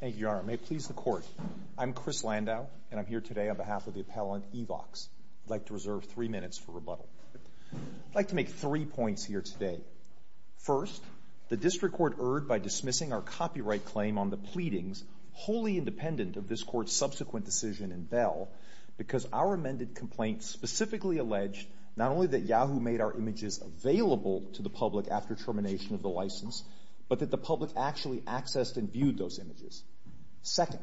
Thank you, Your Honor. May it please the Court. I'm Chris Landau, and I'm here today on behalf of the appellant, Evox. I'd like to reserve three minutes for rebuttal. I'd like to make three points here today. First, the District Court erred by dismissing our copyright claim on the pleadings, wholly independent of this Court's subsequent decision in Bell, because our amended complaint specifically alleged not only that Yahoo made our images available to the public after termination of the license, but that the public actually accessed and viewed those images. Second,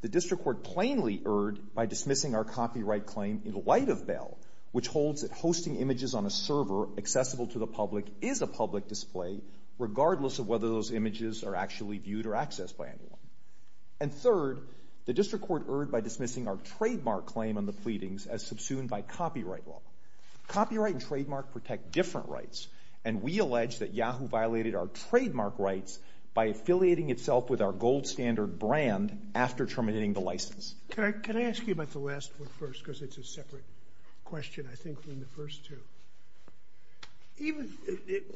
the District Court plainly erred by dismissing our copyright claim in light of Bell, which holds that hosting images on a server accessible to the public is a public display, regardless of whether those images are actually viewed or accessed by anyone. And third, the District Court erred by dismissing our trademark claim on the pleadings as subsumed by copyright law. Copyright and trademark protect different rights, and we allege that Yahoo violated our trademark rights by affiliating itself with our gold-standard brand after terminating the license. Can I ask you about the last one first, because it's a separate question, I think, from the first two.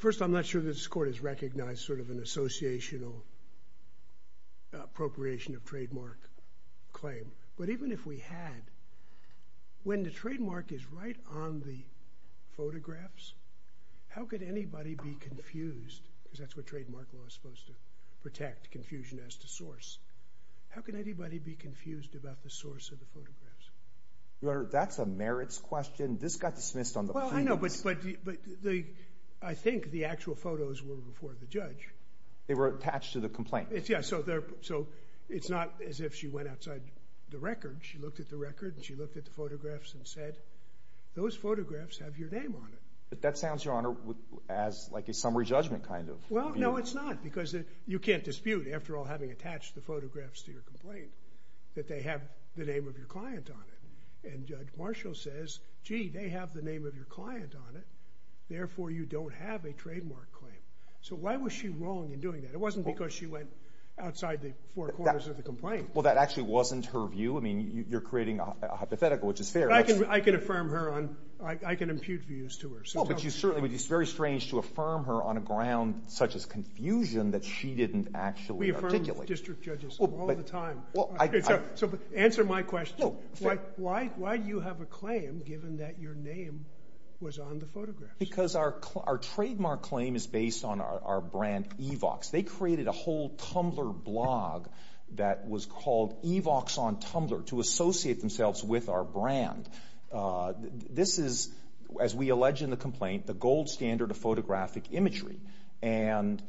First, I'm not sure this Court has recognized sort of an associational appropriation of trademark claim, but even if we had, we have a trademark claim. When the trademark is right on the photographs, how could anybody be confused, because that's what trademark law is supposed to do, protect confusion as to source. How can anybody be confused about the source of the photographs? Your Honor, that's a merits question. This got dismissed on the pleadings. Well, I know, but I think the actual photos were before the judge. They were attached to the complaint. Yeah, so it's not as if she went outside the record. She looked at the record, and she looked at the photographs and said, those photographs have your name on it. But that sounds, Your Honor, as like a summary judgment kind of view. Well, no, it's not, because you can't dispute, after all, having attached the photographs to your complaint, that they have the name of your client on it. And Judge Marshall says, gee, they have the name of your client on it, therefore you don't have a trademark claim. So why was she wrong in doing that? It wasn't because she went outside the four corners of the complaint. Well, that actually wasn't her view. I mean, you're creating a hypothetical, which is fair. I can affirm her on, I can impute views to her. Well, but you certainly, it would be very strange to affirm her on a ground such as confusion that she didn't actually articulate. We affirm district judges all the time. So answer my question. Why do you have a claim, given that your name was on the photographs? Because our trademark claim is based on our brand, Evox. They created a whole Tumblr blog that was called Evox on Tumblr to associate themselves with our brand. This is, as we allege in the complaint, the gold standard of photographic imagery. And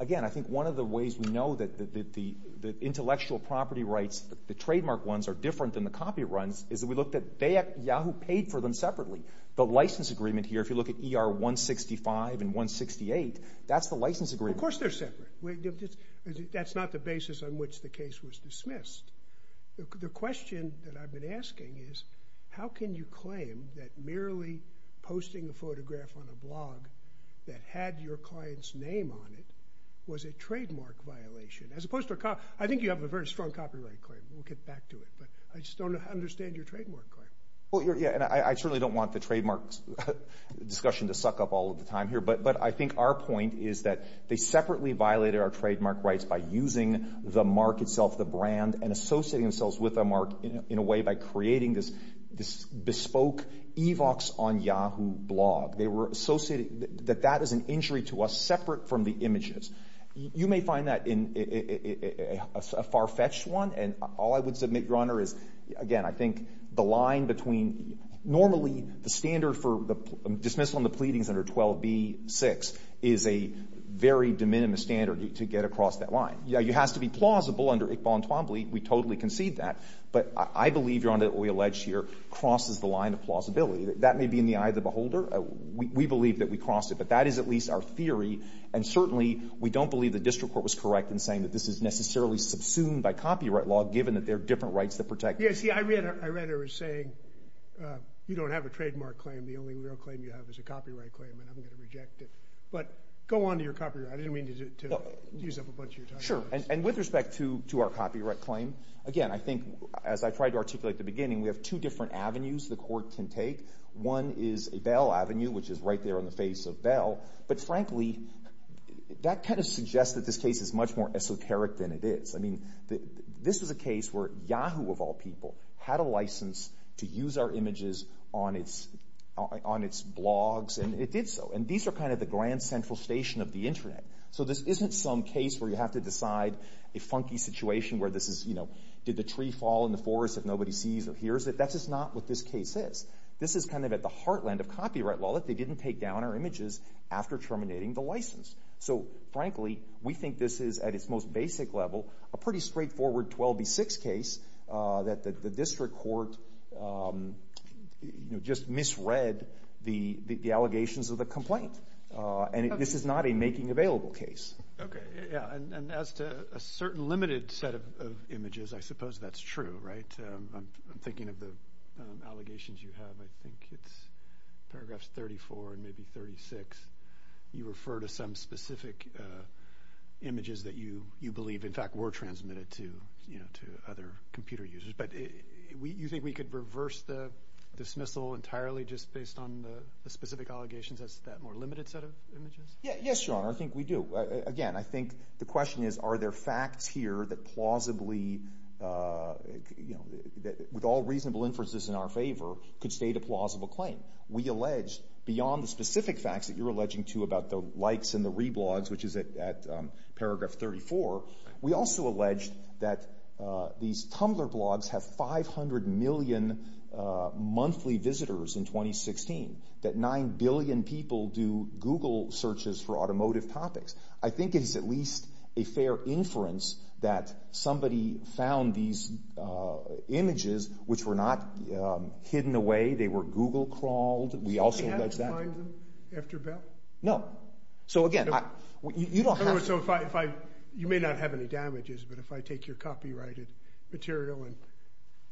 again, I think one of the ways we know that the intellectual property rights, the trademark ones, are different than the copy runs is that we looked at, Yahoo paid for them separately. The license agreement here, if you look at ER 165 and 168, that's the basis on which the case was dismissed. The question that I've been asking is, how can you claim that merely posting a photograph on a blog that had your client's name on it was a trademark violation? As opposed to, I think you have a very strong copyright claim. We'll get back to it. But I just don't understand your trademark claim. Well, yeah, and I certainly don't want the trademark discussion to suck up all of the time here. But I think our point is that they separately violated our trademark rights by using the mark itself, the brand, and associating themselves with a mark in a way by creating this bespoke Evox on Yahoo blog. They were associating that that is an injury to us separate from the images. You may find that a far-fetched one. And all I would submit, Your Honor, is, again, I think the line between normally the standard for the dismissal and the pleadings under 12b-6 is a very de minimis standard to get across that line. It has to be plausible under Iqbal and Twombly. We totally concede that. But I believe, Your Honor, what we allege here crosses the line of plausibility. That may be in the eye of the beholder. We believe that we crossed it. But that is at least our theory. And certainly we don't believe the district court was correct in saying that this is necessarily subsumed by copyright law, given that there are different rights to protect. Yeah, see, I read it as saying, you don't have a trademark claim. The only real claim you have is a copyright claim, and I'm going to reject it. But go on to your copyright. I didn't mean to use up a bunch of your time. Sure. And with respect to our copyright claim, again, I think, as I tried to articulate at the beginning, we have two different avenues the court can take. One is a Bell Avenue, which is right there on the face of Bell. But frankly, that kind of suggests that this is a case where Yahoo, of all people, had a license to use our images on its blogs, and it did so. And these are kind of the grand central station of the Internet. So this isn't some case where you have to decide a funky situation where this is, you know, did the tree fall in the forest if nobody sees or hears it? That's just not what this case is. This is kind of at the heartland of copyright law that they didn't take down our images after terminating the license. So frankly, we think this is, at its most basic level, a pretty straightforward 12B6 case that the district court, you know, just misread the allegations of the complaint. And this is not a making available case. Okay. Yeah. And as to a certain limited set of images, I suppose that's true, right? I'm thinking of the allegations you have. I think it's paragraphs 34 and maybe 36. You refer to some specific images that you believe, in fact, were transmitted to, you know, to other computer users. But you think we could reverse the dismissal entirely just based on the specific allegations as to that more limited set of images? Yeah. Yes, Your Honor. I think we do. Again, I think the question is, are there facts here that plausibly, you know, with all reasonable inferences in our favor, could state a plausible which is at paragraph 34. We also allege that these Tumblr blogs have 500 million monthly visitors in 2016, that 9 billion people do Google searches for automotive topics. I think it's at least a fair inference that somebody found these images which were not hidden away. They were Google crawled. We also allege that. Did you find them after Bell? No. So, again, you don't have to. So, you may not have any damages, but if I take your copyrighted material and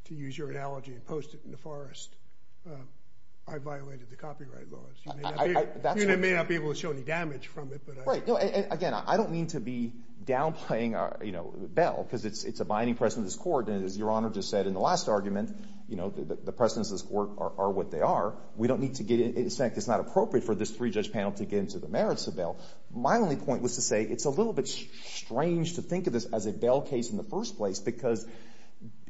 to use your analogy and post it in the forest, I violated the copyright laws. You may not be able to show any damage from it, but I... Right. Again, I don't mean to be downplaying, you know, Bell because it's a binding precedent of this court. And as Your Honor just said in the last argument, you know, the precedents of this court are what they are. We don't need to get in... In fact, it's not appropriate for this three-judge panel to get into the merits of Bell. My only point was to say it's a little bit strange to think of this as a Bell case in the first place because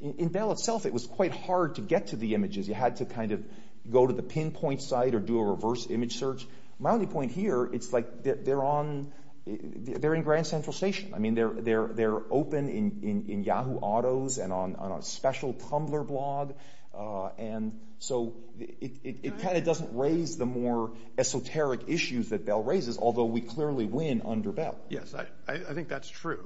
in Bell itself it was quite hard to get to the images. You had to kind of go to the pinpoint site or do a reverse image search. My only point here, it's like they're on... They're in Grand Central Station. I mean, they're open in Yahoo Autos and on a special Tumblr blog. And they are open. So it kind of doesn't raise the more esoteric issues that Bell raises, although we clearly win under Bell. Yes. I think that's true.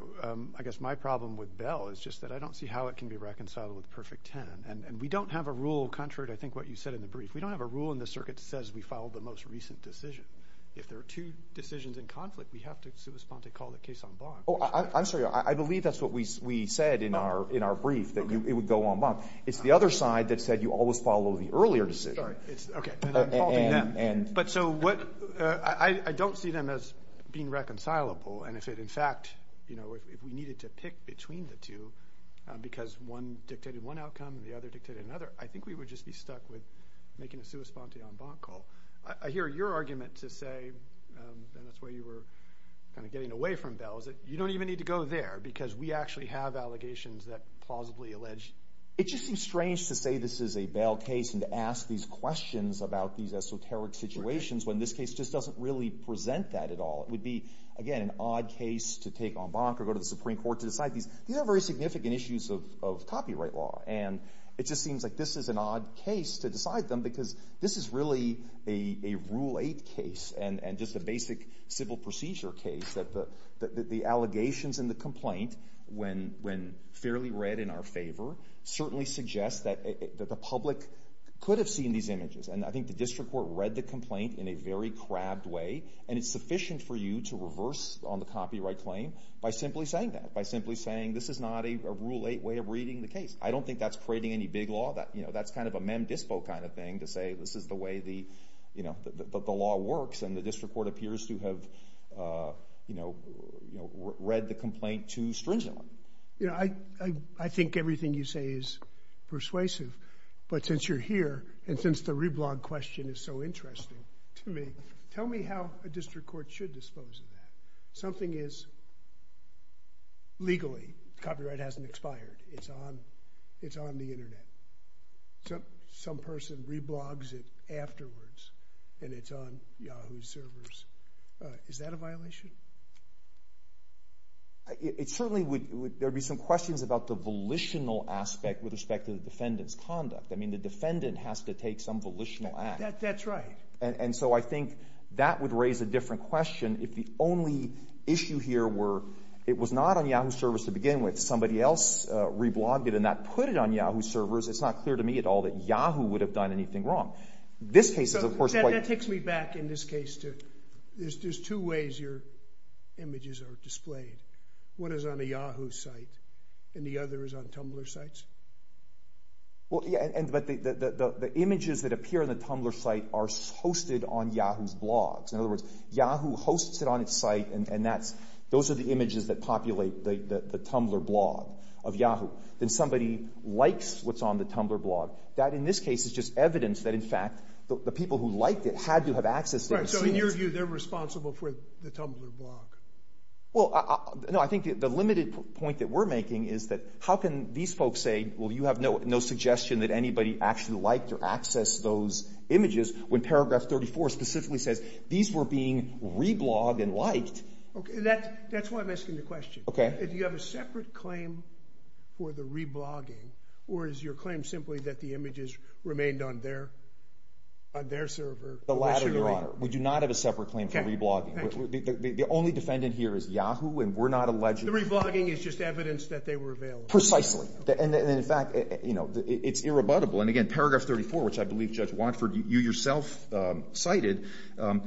I guess my problem with Bell is just that I don't see how it can be reconciled with Perfect Ten. And we don't have a rule, contrary to I think what you said in the brief. We don't have a rule in the circuit that says we follow the most recent decision. If there are two decisions in conflict, we have to correspond to call the case en banc. Oh, I'm sorry. I believe that's what we said in our brief, that it would go en banc. It's the other side that said you always follow the earlier decision. Sorry. Okay. But I don't see them as being reconcilable. And if it, in fact, if we needed to pick between the two because one dictated one outcome and the other dictated another, I think we would just be stuck with making a sua sponte en banc call. I hear your argument to say, and that's why you were kind of getting away from Bell, is that you don't even need to go there because we actually have allegations that plausibly allege... It just seems strange to say this is a Bell case and to ask these questions about these esoteric situations when this case just doesn't really present that at all. It would be, again, an odd case to take en banc or go to the Supreme Court to decide these. These are very significant issues of copyright law. And it just seems like this is an odd case to decide them because this is really a Rule 8 case and just a basic civil procedure case that the allegations in the complaint, when fairly read in our favor, certainly suggest that the public could have seen these images. And I think the district court read the complaint in a very crabbed way. And it's sufficient for you to reverse on the copyright claim by simply saying that, by simply saying this is not a Rule 8 way of reading the case. I don't think that's creating any big law. That's kind of a mem dispo kind of thing to say this is the way the law works. And the district court appears to have read the complaint too stringently. I think everything you say is persuasive. But since you're here, and since the reblog question is so interesting to me, tell me how a district court should dispose of that. Something is legally... Copyright hasn't expired. It's on the Internet. Some person reblogs it afterwards. And it's on Yahoo's servers. Is that a violation? It certainly would... There would be some questions about the volitional aspect with respect to the defendant's conduct. I mean, the defendant has to take some volitional act. That's right. And so I think that would raise a different question if the only issue here were it was not on Yahoo's servers to begin with. Somebody else reblogged it and that put it on Yahoo's So that takes me back in this case to... There's two ways your images are displayed. One is on a Yahoo site and the other is on Tumblr sites? The images that appear on the Tumblr site are hosted on Yahoo's blogs. In other words, Yahoo hosts it on its site and those are the images that populate the Tumblr blog of Yahoo. likes what's on the Tumblr blog. That, in this case, is just evidence that, in fact, the people who liked it had to have access to those scenes. Right. So in your view, they're responsible for the Tumblr blog? Well, no. I think the limited point that we're making is that how can these folks say, well, you have no suggestion that anybody actually liked or accessed those images when paragraph That's why I'm asking the question. Do you have a separate claim for the reblogging or is your claim simply that the images remained on their server? The latter, Your Honor. We do not have a separate claim for reblogging. The only defendant here is Yahoo and we're not alleging... The reblogging is just evidence that they were available? Precisely. And, in fact, it's irrebuttable. And, again, paragraph 34, which I believe Judge Watford, you yourself cited,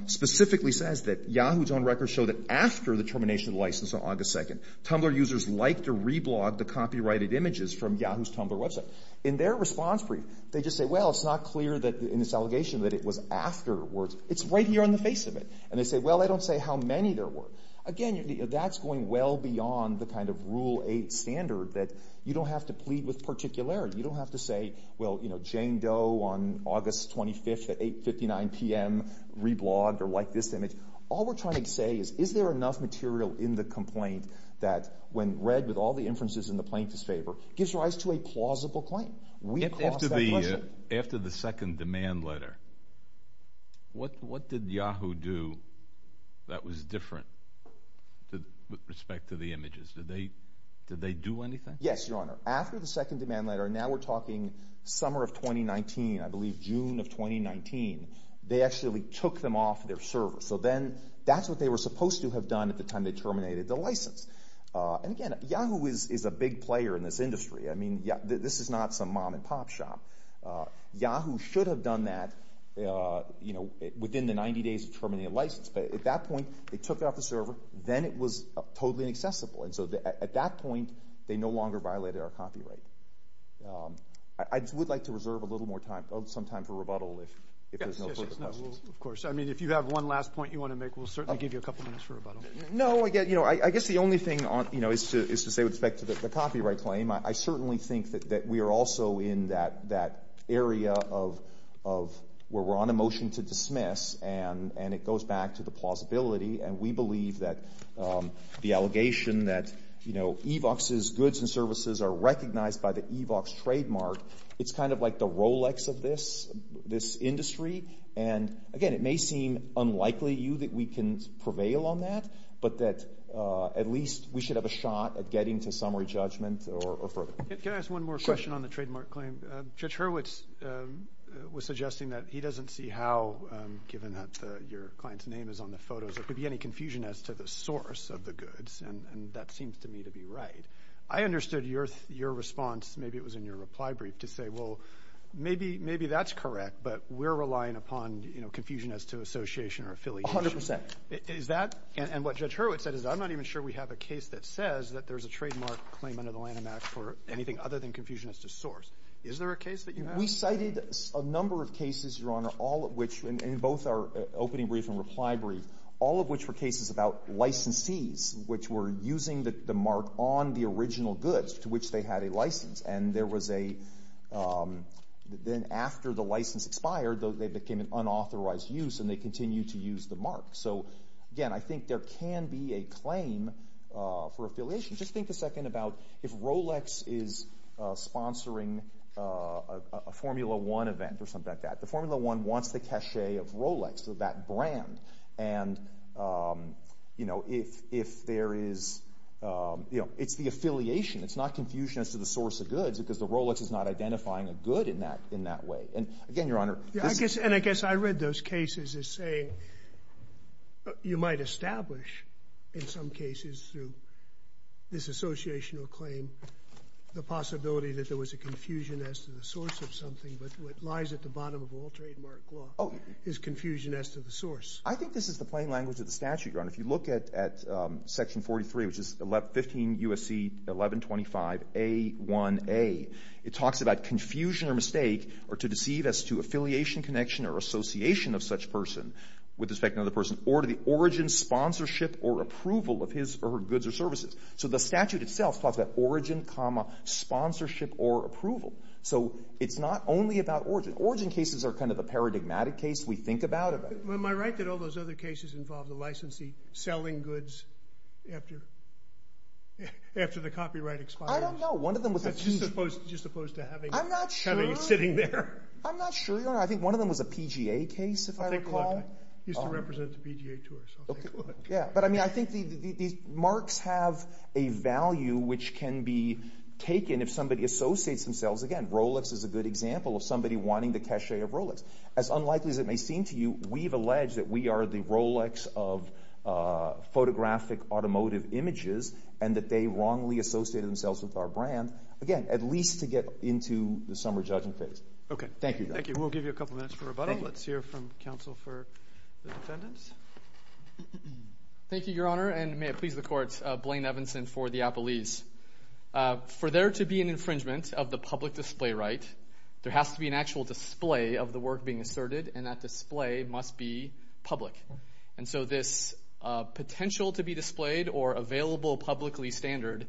specifically says that Yahoo's own records show that after the termination of the license on August 2nd, Tumblr users liked or reblogged the copyrighted images from Yahoo's Tumblr website. In their response brief, they just say, well, it's not clear in this allegation that it was afterwards. It's right here on the face of it. And they say, well, they don't say how many there were. Again, that's going well beyond the kind of Rule 8 standard that you don't have to plead with particularity. You don't have to say, well, Jane Doe on August 25th at 8.59 p.m. reblogged or liked this image. All we're trying to say is, is there enough material in the complaint that, when read with all the inferences in the plaintiff's favor, gives rise to a plausible claim? After the second demand letter, what did Yahoo do that was different with respect to the images? Did they do anything? Yes, Your Honor. After the second demand letter, now we're talking summer of 2019, I believe June of 2019, they actually took them off their server. So then that's what they were supposed to have done at the time they terminated the license. And again, Yahoo is a big player in this industry. I mean, this is not some mom and pop shop. Yahoo should have done that within the 90 days of terminating the license. But at that point, they took it off the server. Then it was totally inaccessible. And so at that point, they no longer violated our copyright. I would like to reserve a little more time, some time for rebuttal if there's no further questions. Of course. I mean, if you have one last point you want to make, we'll certainly give you a couple minutes for rebuttal. No, I guess the only thing is to say with respect to the copyright claim, I certainly think that we are also in that area of where we're on a motion to dismiss, and it goes back to the plausibility. And we believe that the allegation that, you know, Evox's goods and services are recognized by the Evox trademark, it's kind of like the Rolex of this industry. And again, it may seem unlikely to you that we can prevail on that, but that at least we should have a shot at getting to summary judgment or further. Can I ask one more question on the trademark claim? Judge Hurwitz was suggesting that he doesn't see how, given that your client's name is on the photos, there could be any confusion as to the source of the goods, and that seems to me to be right. I understood your response. Maybe it was in your reply brief to say, well, maybe that's correct, but we're relying upon confusion as to association or affiliation. A hundred percent. Is that – and what Judge Hurwitz said is I'm not even sure we have a case that says that there's a trademark claim for anything other than confusion as to source. Is there a case that you have? We cited a number of cases, Your Honor, all of which – in both our opening brief and reply brief, all of which were cases about licensees which were using the mark on the original goods to which they had a license. And there was a – then after the license expired, they became an unauthorized use, and they continued to use the mark. So, again, I think there can be a claim for affiliation. Just think a second about if Rolex is sponsoring a Formula One event or something like that. The Formula One wants the cachet of Rolex, of that brand. And, you know, if there is – you know, it's the affiliation. It's not confusion as to the source of goods because the Rolex is not identifying a good in that way. And, again, Your Honor – And I guess I read those cases as saying you might establish in some cases through this associational claim the possibility that there was a confusion as to the source of something, but what lies at the bottom of all trademark law is confusion as to the source. I think this is the plain language of the statute, Your Honor. If you look at Section 43, which is 15 U.S.C. 1125a1a, it talks about confusion or mistake or to deceive as to affiliation, connection, or association of such person with respect to another person or to the origin, sponsorship, or approval of his or her goods or services. So the statute itself talks about origin, sponsorship, or approval. So it's not only about origin. Origin cases are kind of a paradigmatic case. We think about it. Am I right that all those other cases involve the licensee selling goods after the copyright expires? I don't know. That's just opposed to having it sitting there. I'm not sure. I'm not sure, Your Honor. I think one of them was a PGA case, if I recall. I'll take a look. It used to represent the PGA tour, so I'll take a look. Yeah, but I think these marks have a value which can be taken if somebody associates themselves. Again, Rolex is a good example of somebody wanting the cachet of Rolex. As unlikely as it may seem to you, we've alleged that we are the Rolex of photographic automotive images and that they wrongly associated themselves with our brand, again, at least to get into the summer judging phase. Okay. Thank you. Thank you. We'll give you a couple minutes for rebuttal. Let's hear from counsel for the defendants. Thank you, Your Honor, and may it please the Court, Blaine Evanson for the Appleese. For there to be an infringement of the public display right, there has to be an actual display of the work being asserted, and that display must be public. And so this potential to be displayed or available publicly standard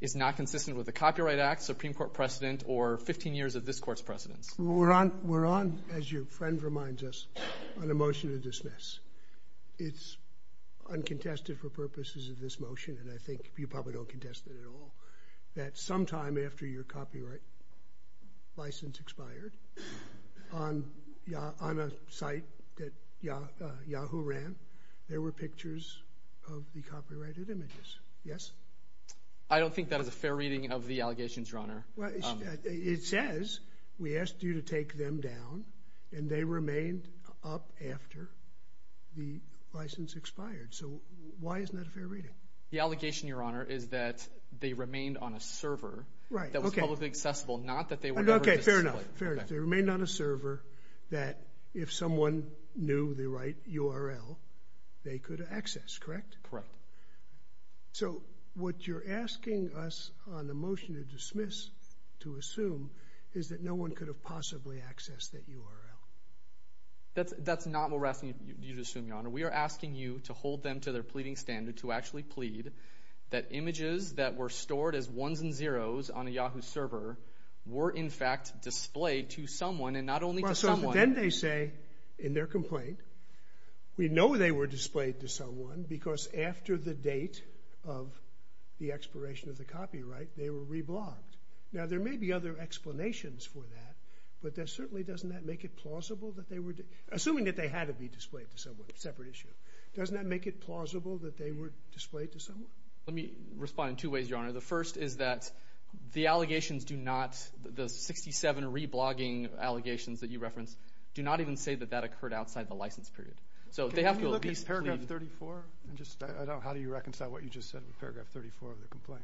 is not consistent with the Copyright Act, Supreme Court precedent, or 15 years of this Court's precedence. We're on, as your friend reminds us, on a motion to dismiss. It's uncontested for purposes of this motion, and I think you probably don't contest it at all, that sometime after your copyright license expired on a site that Yahoo ran, there were pictures of the copyrighted images. Yes? I don't think that is a fair reading of the allegations, Your Honor. It says we asked you to take them down, and they remained up after the license expired. So why isn't that a fair reading? The allegation, Your Honor, is that they remained on a server that was publicly accessible, not that they were ever displayed. Okay, fair enough, fair enough. They remained on a server that if someone knew the right URL, they could access, correct? Correct. So what you're asking us on the motion to dismiss to assume is that no one could have possibly accessed that URL. That's not what we're asking you to assume, Your Honor. We are asking you to hold them to their pleading standard to actually plead that images that were stored as ones and zeros on a Yahoo server were, in fact, displayed to someone, and not only to someone. Well, so then they say in their complaint, we know they were displayed to someone because after the date of the expiration of the copyright, they were reblogged. Now, there may be other explanations for that, but certainly doesn't that make it plausible that they were – assuming that they had to be displayed to someone, separate issue. Doesn't that make it plausible that they were displayed to someone? Let me respond in two ways, Your Honor. The first is that the allegations do not – the 67 reblogging allegations that you referenced do not even say that that occurred outside the license period. So they have to at least plead. Can we look at paragraph 34 and just – I don't know. How do you reconcile what you just said with paragraph 34 of the complaint?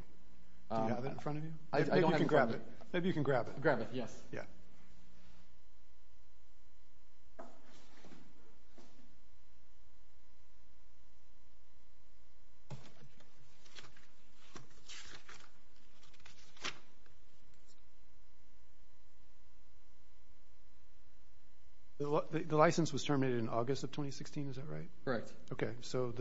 Do you have it in front of you? I don't have it in front of me. Maybe you can grab it. Grab it, yes. Yeah. The license was terminated in August of 2016. Is that right? Correct. Okay. So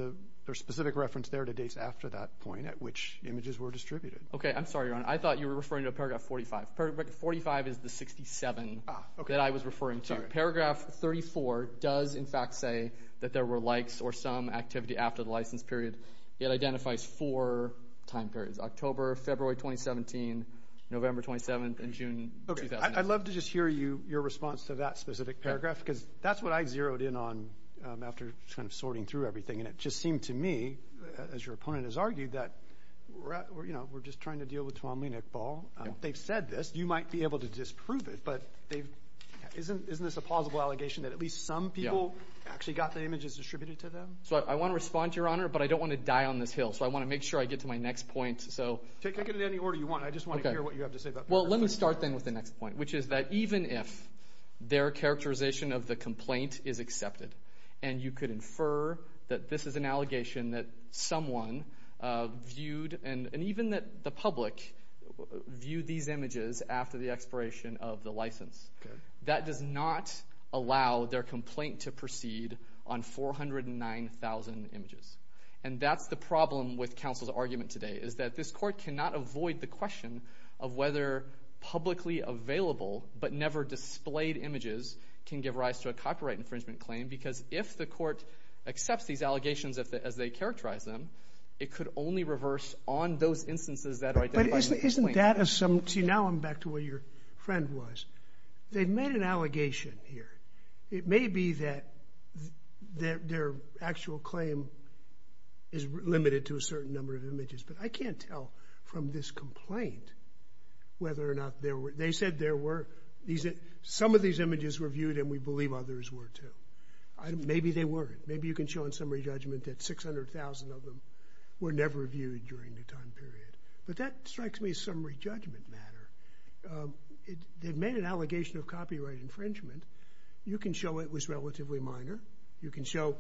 there's specific reference there to dates after that point at which images were distributed. Okay. I'm sorry, Your Honor. I thought you were referring to paragraph 45. Paragraph 45 is the 67 that I was referring to. Paragraph 34 does, in fact, say that there were likes or some activity after the license period. It identifies four time periods – October, February 2017, November 27, and June 2016. Okay. I'd love to just hear you – your response to that specific paragraph because that's what I zeroed in on after kind of sorting through everything. And it just seemed to me, as your opponent has argued, that we're just trying to deal with Tuomly and Iqbal. They've said this. You might be able to disprove it. But isn't this a plausible allegation that at least some people actually got the images distributed to them? So I want to respond to Your Honor, but I don't want to die on this hill. So I want to make sure I get to my next point. Take it in any order you want. I just want to hear what you have to say about paragraph 45. Well, let me start then with the next point, which is that even if their characterization of the complaint is accepted and you could infer that this is an allegation that someone viewed, and even that the public viewed these images after the expiration of the license, that does not allow their complaint to proceed on 409,000 images. And that's the problem with counsel's argument today, is that this court cannot avoid the question of whether publicly available but never displayed images can give rise to a copyright infringement claim, because if the court accepts these allegations as they characterize them, it could only reverse on those instances that are identified in the complaint. But isn't that a something? See, now I'm back to where your friend was. They've made an allegation here. It may be that their actual claim is limited to a certain number of images, but I can't tell from this complaint whether or not there were. They said there were. Some of these images were viewed, and we believe others were too. Maybe they weren't. Maybe you can show in summary judgment that 600,000 of them were never viewed during the time period. But that strikes me as a summary judgment matter. They've made an allegation of copyright infringement. You can show it was relatively minor. You can show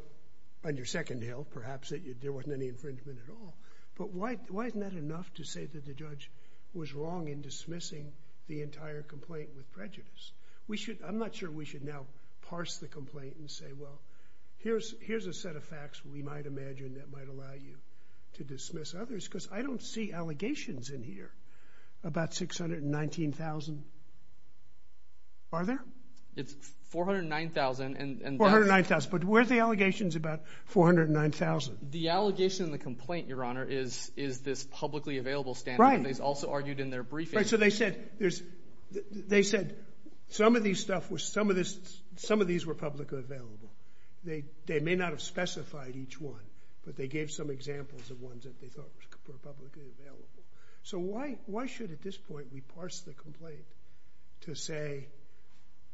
on your second hill, perhaps, that there wasn't any infringement at all. But why isn't that enough to say that the judge was wrong in dismissing the entire complaint with prejudice? I'm not sure we should now parse the complaint and say, well, here's a set of facts we might imagine that might allow you to dismiss others, because I don't see allegations in here about 619,000. Are there? It's 409,000. 409,000. But where are the allegations about 409,000? The allegation in the complaint, Your Honor, is this publicly available standard. Right. And it's also argued in their briefing. Right. So they said some of these were publicly available. They may not have specified each one, but they gave some examples of ones that they thought were publicly available. So why should, at this point, we parse the complaint to say,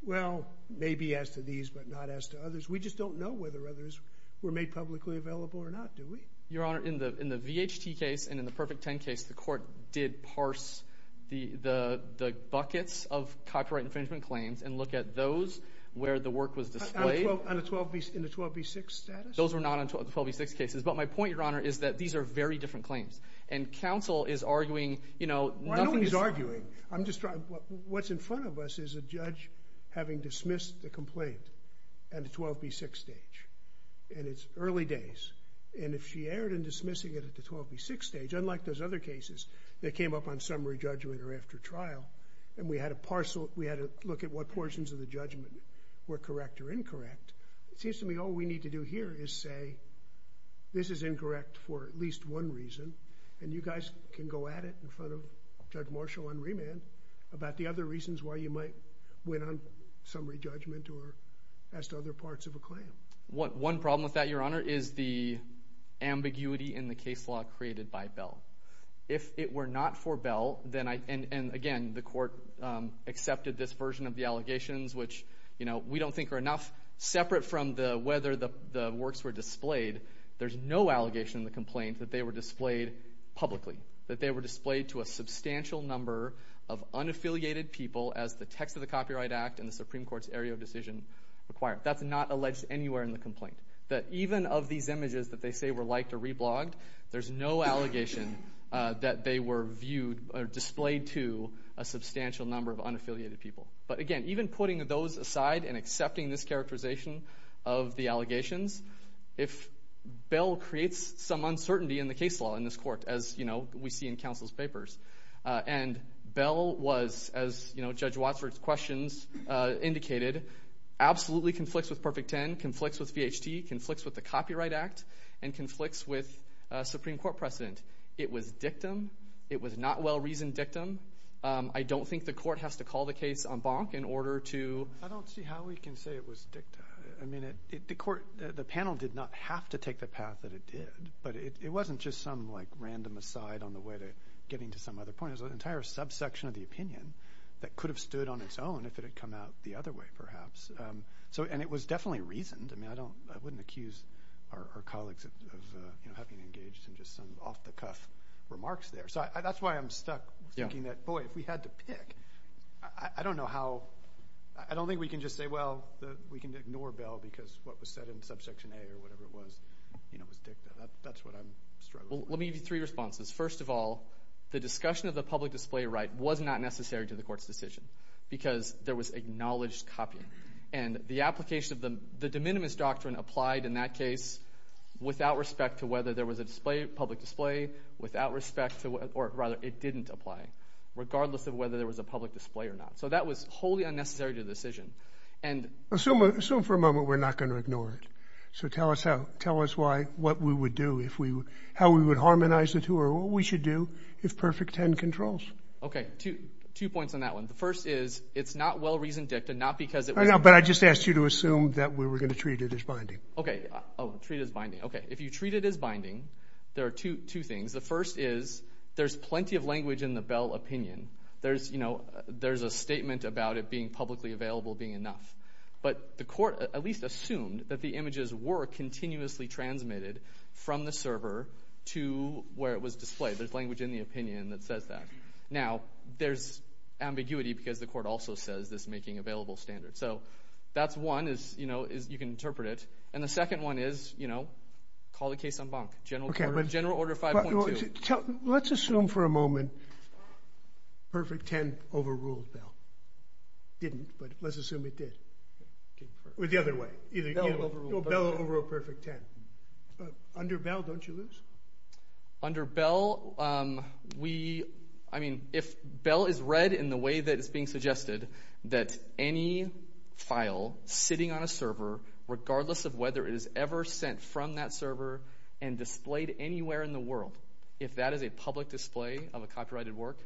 well, maybe as to these but not as to others? We just don't know whether others were made publicly available or not, do we? Your Honor, in the VHT case and in the Perfect 10 case, the court did parse the buckets of copyright infringement claims and look at those where the work was displayed. In the 12B6 status? Those were not in the 12B6 cases. But my point, Your Honor, is that these are very different claims. And counsel is arguing, you know, nothing is – Well, I don't think he's arguing. I'm just trying – what's in front of us is a judge having dismissed the complaint at the 12B6 stage. And it's early days. And if she erred in dismissing it at the 12B6 stage, unlike those other cases that came up on summary judgment or after trial, and we had to parse it, we had to look at what portions of the judgment were correct or incorrect, it seems to me all we need to do here is say, this is incorrect for at least one reason, and you guys can go at it in front of Judge Marshall on remand about the other reasons why you might win on summary judgment or ask other parts of a claim. One problem with that, Your Honor, is the ambiguity in the case law created by Bell. If it were not for Bell, then I – and, again, the court accepted this version of the allegations, which, you know, we don't think are enough. Separate from whether the works were displayed, there's no allegation in the complaint that they were displayed publicly, that they were displayed to a substantial number of unaffiliated people as the text of the Copyright Act and the Supreme Court's area of decision required. That's not alleged anywhere in the complaint. That even of these images that they say were liked or reblogged, there's no allegation that they were viewed or displayed to a substantial number of unaffiliated people. But, again, even putting those aside and accepting this characterization of the allegations, if Bell creates some uncertainty in the case law in this court, as, you know, we see in counsel's papers. And Bell was, as, you know, Judge Wadsworth's questions indicated, absolutely conflicts with Perfect Ten, conflicts with VHT, conflicts with the Copyright Act, and conflicts with Supreme Court precedent. It was dictum. It was not well-reasoned dictum. I don't think the court has to call the case en banc in order to – I don't see how we can say it was dicta. I mean, the panel did not have to take the path that it did, but it wasn't just some, like, random aside on the way to getting to some other point. It was an entire subsection of the opinion that could have stood on its own if it had come out the other way, perhaps. And it was definitely reasoned. I mean, I wouldn't accuse our colleagues of having engaged in just some off-the-cuff remarks there. So that's why I'm stuck thinking that, boy, if we had to pick, I don't know how – we can ignore Bell because what was said in subsection A or whatever it was, you know, was dicta. That's what I'm struggling with. Well, let me give you three responses. First of all, the discussion of the public display right was not necessary to the court's decision because there was acknowledged copying. And the application of the de minimis doctrine applied in that case without respect to whether there was a public display, without respect to – or rather, it didn't apply regardless of whether there was a public display or not. So that was wholly unnecessary to the decision. And – Assume for a moment we're not going to ignore it. So tell us how – tell us why – what we would do if we – how we would harmonize the two or what we should do if perfect 10 controls. Okay. Two points on that one. The first is it's not well-reasoned dicta, not because it was – I know, but I just asked you to assume that we were going to treat it as binding. Okay. Oh, treat it as binding. Okay. If you treat it as binding, there are two things. The first is there's plenty of language in the Bell opinion. There's, you know, there's a statement about it being publicly available being enough. But the court at least assumed that the images were continuously transmitted from the server to where it was displayed. There's language in the opinion that says that. Now, there's ambiguity because the court also says this making available standard. So that's one is, you know, is you can interpret it. And the second one is, you know, call the case en banc, general order 5.2. Let's assume for a moment perfect 10 overruled Bell. It didn't, but let's assume it did. The other way. Bell overruled perfect 10. Under Bell, don't you lose? Under Bell, we – I mean, if Bell is read in the way that is being suggested, that any file sitting on a server, regardless of whether it is ever sent from that server and displayed anywhere in the world, if that is a public display of a copyrighted work,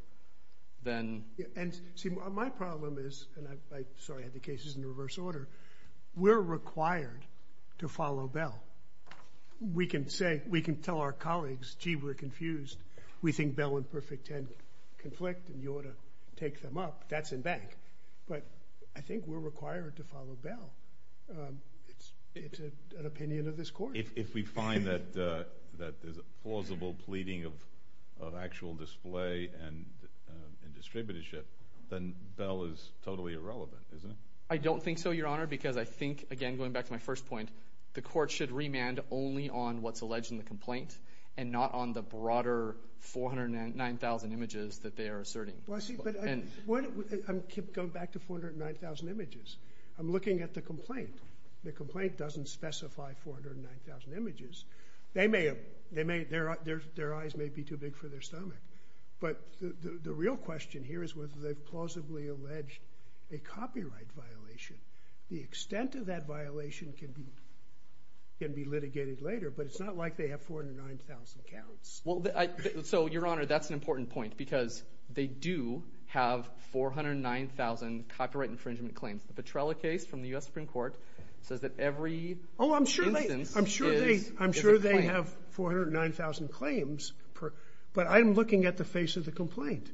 then. And see, my problem is, and I'm sorry I had the cases in reverse order, we're required to follow Bell. We can say, we can tell our colleagues, gee, we're confused. We think Bell and perfect 10 conflict and you ought to take them up. That's en banc. But I think we're required to follow Bell. It's an opinion of this court. If we find that there's a plausible pleading of actual display and distributorship, then Bell is totally irrelevant, isn't it? I don't think so, Your Honor, because I think, again, going back to my first point, the court should remand only on what's alleged in the complaint and not on the broader 409,000 images that they are asserting. Well, see, but I'm going back to 409,000 images. I'm looking at the complaint. The complaint doesn't specify 409,000 images. Their eyes may be too big for their stomach. But the real question here is whether they've plausibly alleged a copyright violation. The extent of that violation can be litigated later, but it's not like they have 409,000 counts. So, Your Honor, that's an important point because they do have 409,000 copyright infringement claims. The Petrella case from the U.S. Supreme Court says that every instance is a claim. I'm sure they have 409,000 claims, but I'm looking at the face of the complaint.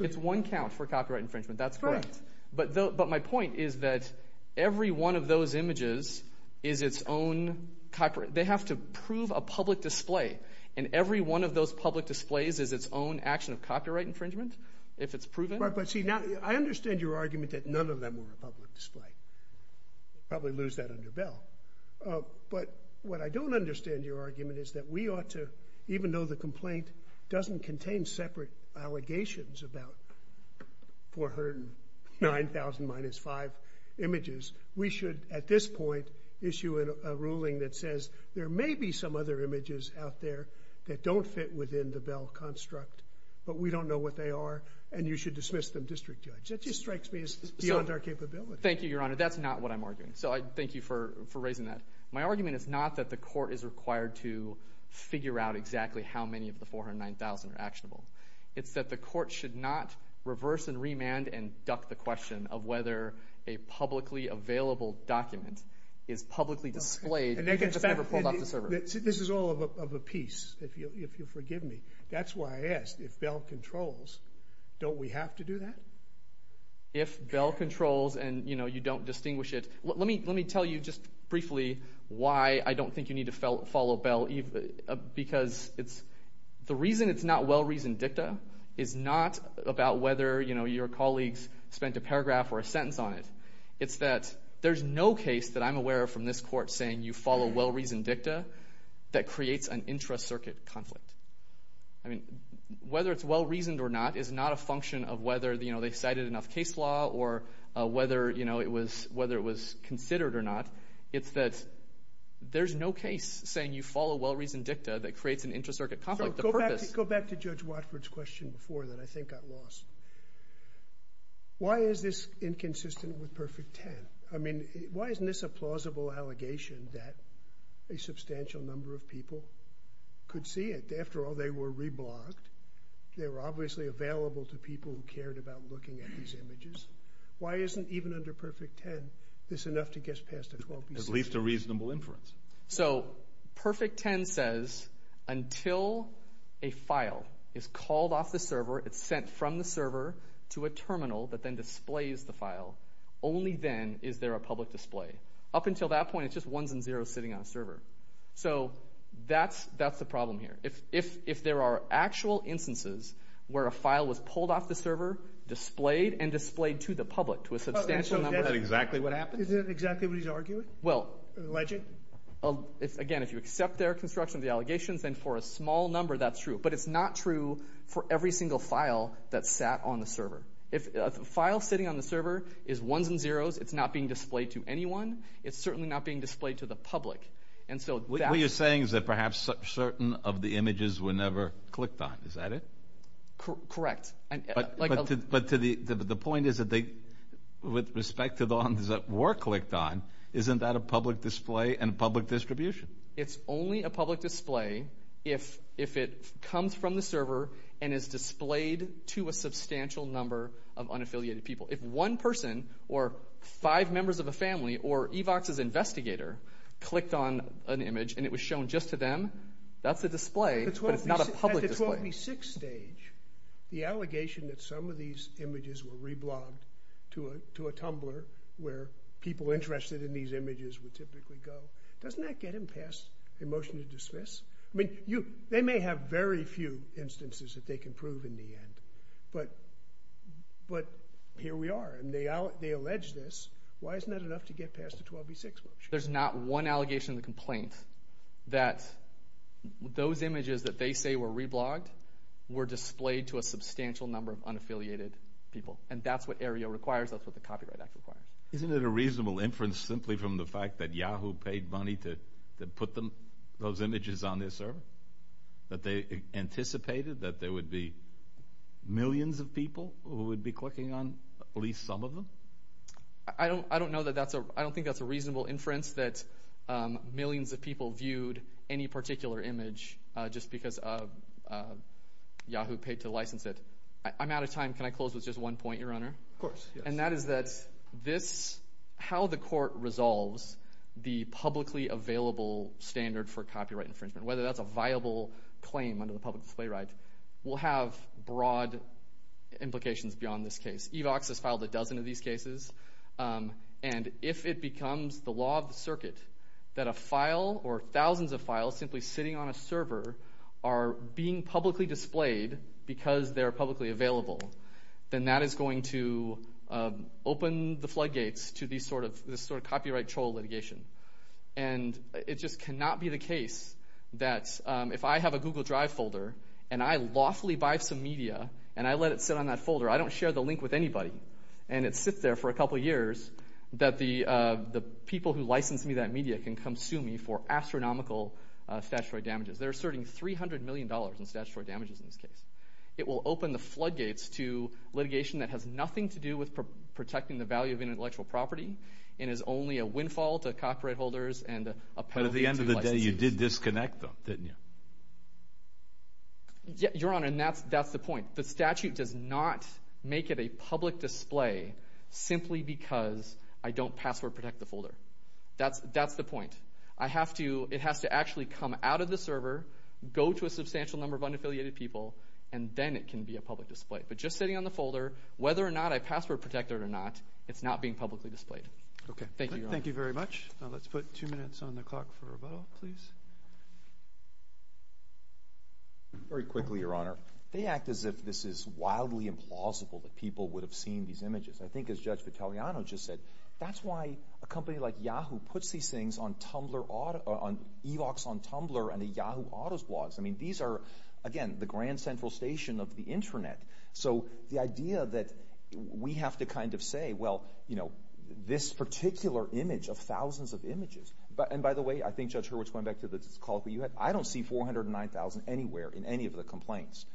It's one count for copyright infringement. That's correct. But my point is that every one of those images is its own copyright. They have to prove a public display, and every one of those public displays is its own action of copyright infringement if it's proven. But, see, I understand your argument that none of them were a public display. Probably lose that under Bell. But what I don't understand your argument is that we ought to, even though the complaint doesn't contain separate allegations about 409,000 minus five images, we should at this point issue a ruling that says there may be some other images out there that don't fit within the Bell construct, but we don't know what they are, and you should dismiss them district judge. That just strikes me as beyond our capability. Thank you, Your Honor. That's not what I'm arguing. So thank you for raising that. My argument is not that the court is required to figure out exactly how many of the 409,000 are actionable. It's that the court should not reverse and remand and duck the question of whether a publicly available document is publicly displayed and just never pulled off the server. This is all of a piece, if you'll forgive me. That's why I asked if Bell controls, don't we have to do that? If Bell controls and, you know, you don't distinguish it. Let me tell you just briefly why I don't think you need to follow Bell because the reason it's not well-reasoned dicta is not about whether, you know, your colleagues spent a paragraph or a sentence on it. It's that there's no case that I'm aware of from this court saying you follow well-reasoned dicta that creates an intra-circuit conflict. I mean, whether it's well-reasoned or not is not a function of whether, you know, they cited enough case law or whether, you know, it was considered or not. It's that there's no case saying you follow well-reasoned dicta that creates an intra-circuit conflict. Go back to Judge Watford's question before that I think got lost. Why is this inconsistent with Perfect Ten? I mean, why isn't this a plausible allegation that a substantial number of people could see it? After all, they were re-blocked. They were obviously available to people who cared about looking at these images. Why isn't even under Perfect Ten this enough to get past a 12-PC? At least a reasonable inference. So Perfect Ten says until a file is called off the server, it's sent from the server to a terminal that then displays the file. Only then is there a public display. Up until that point, it's just ones and zeros sitting on a server. So that's the problem here. If there are actual instances where a file was pulled off the server, displayed, and displayed to the public to a substantial number of people. So that's exactly what happened? Isn't that exactly what he's arguing? Well, again, if you accept their construction of the allegations, then for a small number that's true. But it's not true for every single file that sat on the server. If a file sitting on the server is ones and zeros, it's not being displayed to anyone. It's certainly not being displayed to the public. What you're saying is that perhaps certain of the images were never clicked on. Is that it? Correct. But the point is that with respect to the ones that were clicked on, isn't that a public display and public distribution? It's only a public display if it comes from the server and is displayed to a substantial number of unaffiliated people. If one person or five members of a family or EVOX's investigator clicked on an image and it was shown just to them, that's a display, but it's not a public display. At the 12v6 stage, the allegation that some of these images were reblogged to a Tumblr where people interested in these images would typically go, doesn't that get them passed a motion to dismiss? They may have very few instances that they can prove in the end, but here we are. They allege this. Why isn't that enough to get past the 12v6 motion? There's not one allegation in the complaint that those images that they say were reblogged were displayed to a substantial number of unaffiliated people, and that's what AREA requires. That's what the Copyright Act requires. Isn't it a reasonable inference simply from the fact that Yahoo paid money to put those images on their server? That they anticipated that there would be millions of people who would be clicking on at least some of them? I don't think that's a reasonable inference that millions of people viewed any particular image just because Yahoo paid to license it. I'm out of time. Can I close with just one point, Your Honor? Of course. And that is that how the court resolves the publicly available standard for copyright infringement, whether that's a viable claim under the public display right, will have broad implications beyond this case. EVOX has filed a dozen of these cases, and if it becomes the law of the circuit that a file or thousands of files simply sitting on a server are being publicly displayed because they're publicly available, then that is going to open the floodgates to this sort of copyright troll litigation. And it just cannot be the case that if I have a Google Drive folder and I lawfully buy some media and I let it sit on that folder, I don't share the link with anybody, and it sits there for a couple years, that the people who licensed me that media can come sue me for astronomical statutory damages. They're asserting $300 million in statutory damages in this case. It will open the floodgates to litigation that has nothing to do with protecting the value of intellectual property and is only a windfall to copyright holders and a penalty to licensees. But at the end of the day, you did disconnect them, didn't you? Your Honor, and that's the point. The statute does not make it a public display simply because I don't password protect the folder. That's the point. It has to actually come out of the server, go to a substantial number of unaffiliated people, and then it can be a public display. But just sitting on the folder, whether or not I password protect it or not, it's not being publicly displayed. Thank you, Your Honor. Thank you very much. Let's put two minutes on the clock for rebuttal, please. Very quickly, Your Honor. They act as if this is wildly implausible that people would have seen these images. I think as Judge Vitelliano just said, that's why a company like Yahoo puts these things on Tumblr, eVox on Tumblr and the Yahoo Autos blogs. I mean, these are, again, the grand central station of the Internet. So the idea that we have to kind of say, well, you know, this particular image of thousands of images. And by the way, I think Judge Hurwitz, going back to the call that you had, I don't see 409,000 anywhere in any of the complaints.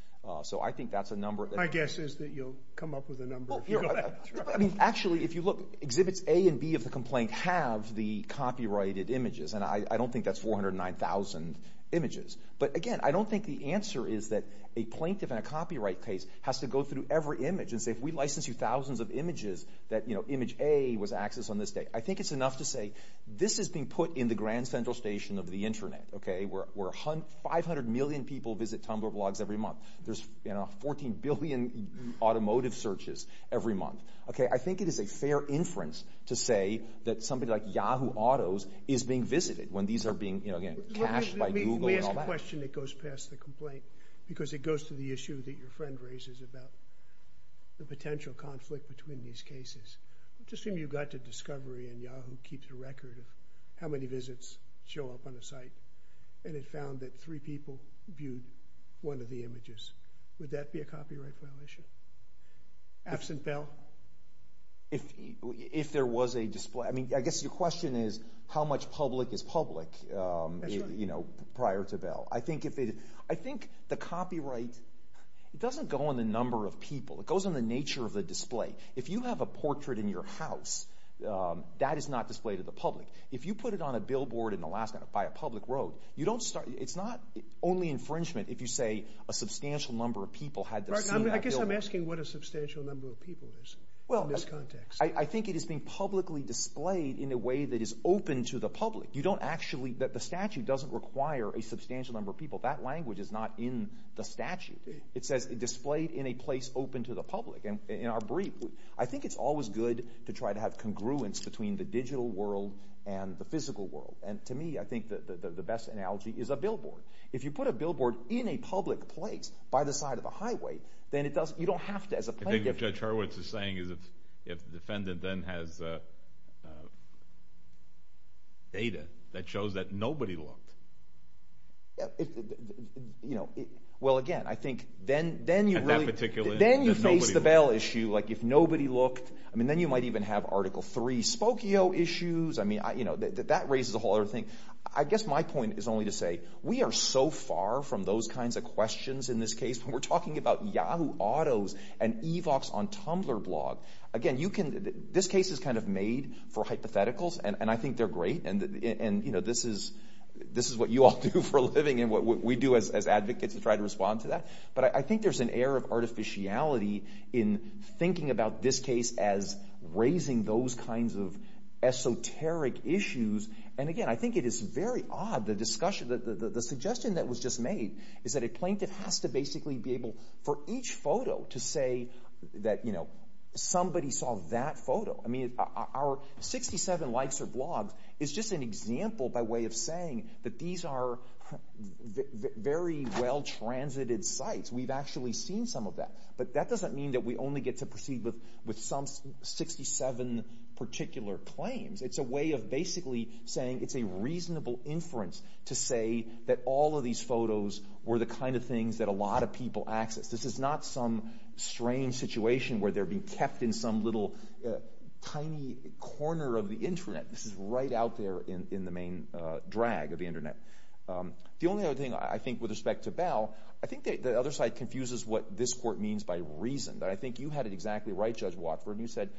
So I think that's a number. My guess is that you'll come up with a number if you go back. exhibits A and B of the complaint have the copyrighted images, and I don't think that's 409,000 images. But again, I don't think the answer is that a plaintiff in a copyright case has to go through every image and say, if we license you thousands of images, that, you know, image A was accessed on this day. I think it's enough to say, this is being put in the grand central station of the Internet, okay, where 500 million people visit Tumblr blogs every month. There's, you know, 14 billion automotive searches every month. Okay, I think it is a fair inference to say that somebody like Yahoo! Autos is being visited when these are being, you know, again, cached by Google and all that. Let me ask a question that goes past the complaint, because it goes to the issue that your friend raises about the potential conflict between these cases. Let's assume you got to Discovery, and Yahoo! keeps a record of how many visits show up on a site, and it found that three people viewed one of the images. Would that be a copyright violation? Absent bail? If there was a display. I mean, I guess your question is, how much public is public, you know, prior to bail? I think the copyright, it doesn't go on the number of people. It goes on the nature of the display. If you have a portrait in your house, that is not displayed to the public. If you put it on a billboard in Alaska by a public road, it's not only infringement if you say a substantial number of people had to see that billboard. I'm asking what a substantial number of people is in this context. I think it is being publicly displayed in a way that is open to the public. You don't actually, the statute doesn't require a substantial number of people. That language is not in the statute. It says displayed in a place open to the public. In our brief, I think it's always good to try to have congruence between the digital world and the physical world. And to me, I think the best analogy is a billboard. If you put a billboard in a public place by the side of a highway, then you don't have to, as a plaintiff... I think what Judge Hurwitz is saying is if the defendant then has data that shows that nobody looked. Well, again, I think then you really... At that particular instance, nobody looked. Then you face the bail issue, like if nobody looked. Then you might even have Article III Spokio issues. That raises a whole other thing. I guess my point is only to say we are so far from those kinds of questions in this case when we're talking about Yahoo autos and eVox on Tumblr blog. Again, this case is kind of made for hypotheticals, and I think they're great, and this is what you all do for a living and what we do as advocates to try to respond to that. But I think there's an air of artificiality in thinking about this case as raising those kinds of esoteric issues. And again, I think it is very odd. The suggestion that was just made is that a plaintiff has to basically be able for each photo to say that, you know, somebody saw that photo. I mean, our 67 likes or blogs is just an example by way of saying that these are very well-transited sites. We've actually seen some of that. But that doesn't mean that we only get to proceed with some 67 particular claims. It's a way of basically saying it's a reasonable inference to say that all of these photos were the kind of things that a lot of people accessed. This is not some strange situation where they're being kept in some little tiny corner of the Internet. This is right out there in the main drag of the Internet. The only other thing I think with respect to Bell, I think the other side confuses what this court means by reason. I think you had it exactly right, Judge Watford, and you said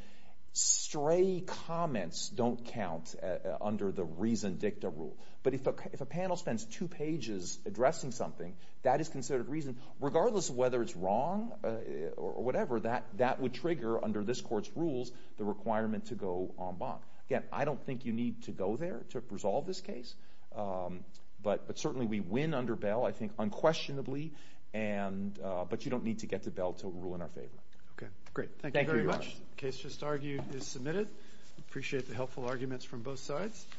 stray comments don't count under the reason dicta rule. But if a panel spends two pages addressing something, that is considered reason. Regardless of whether it's wrong or whatever, that would trigger under this court's rules the requirement to go en banc. Again, I don't think you need to go there to resolve this case. But certainly we win under Bell, I think, unquestionably. But you don't need to get to Bell to rule in our favor. Okay, great. Thank you very much. The case just argued is submitted. Appreciate the helpful arguments from both sides.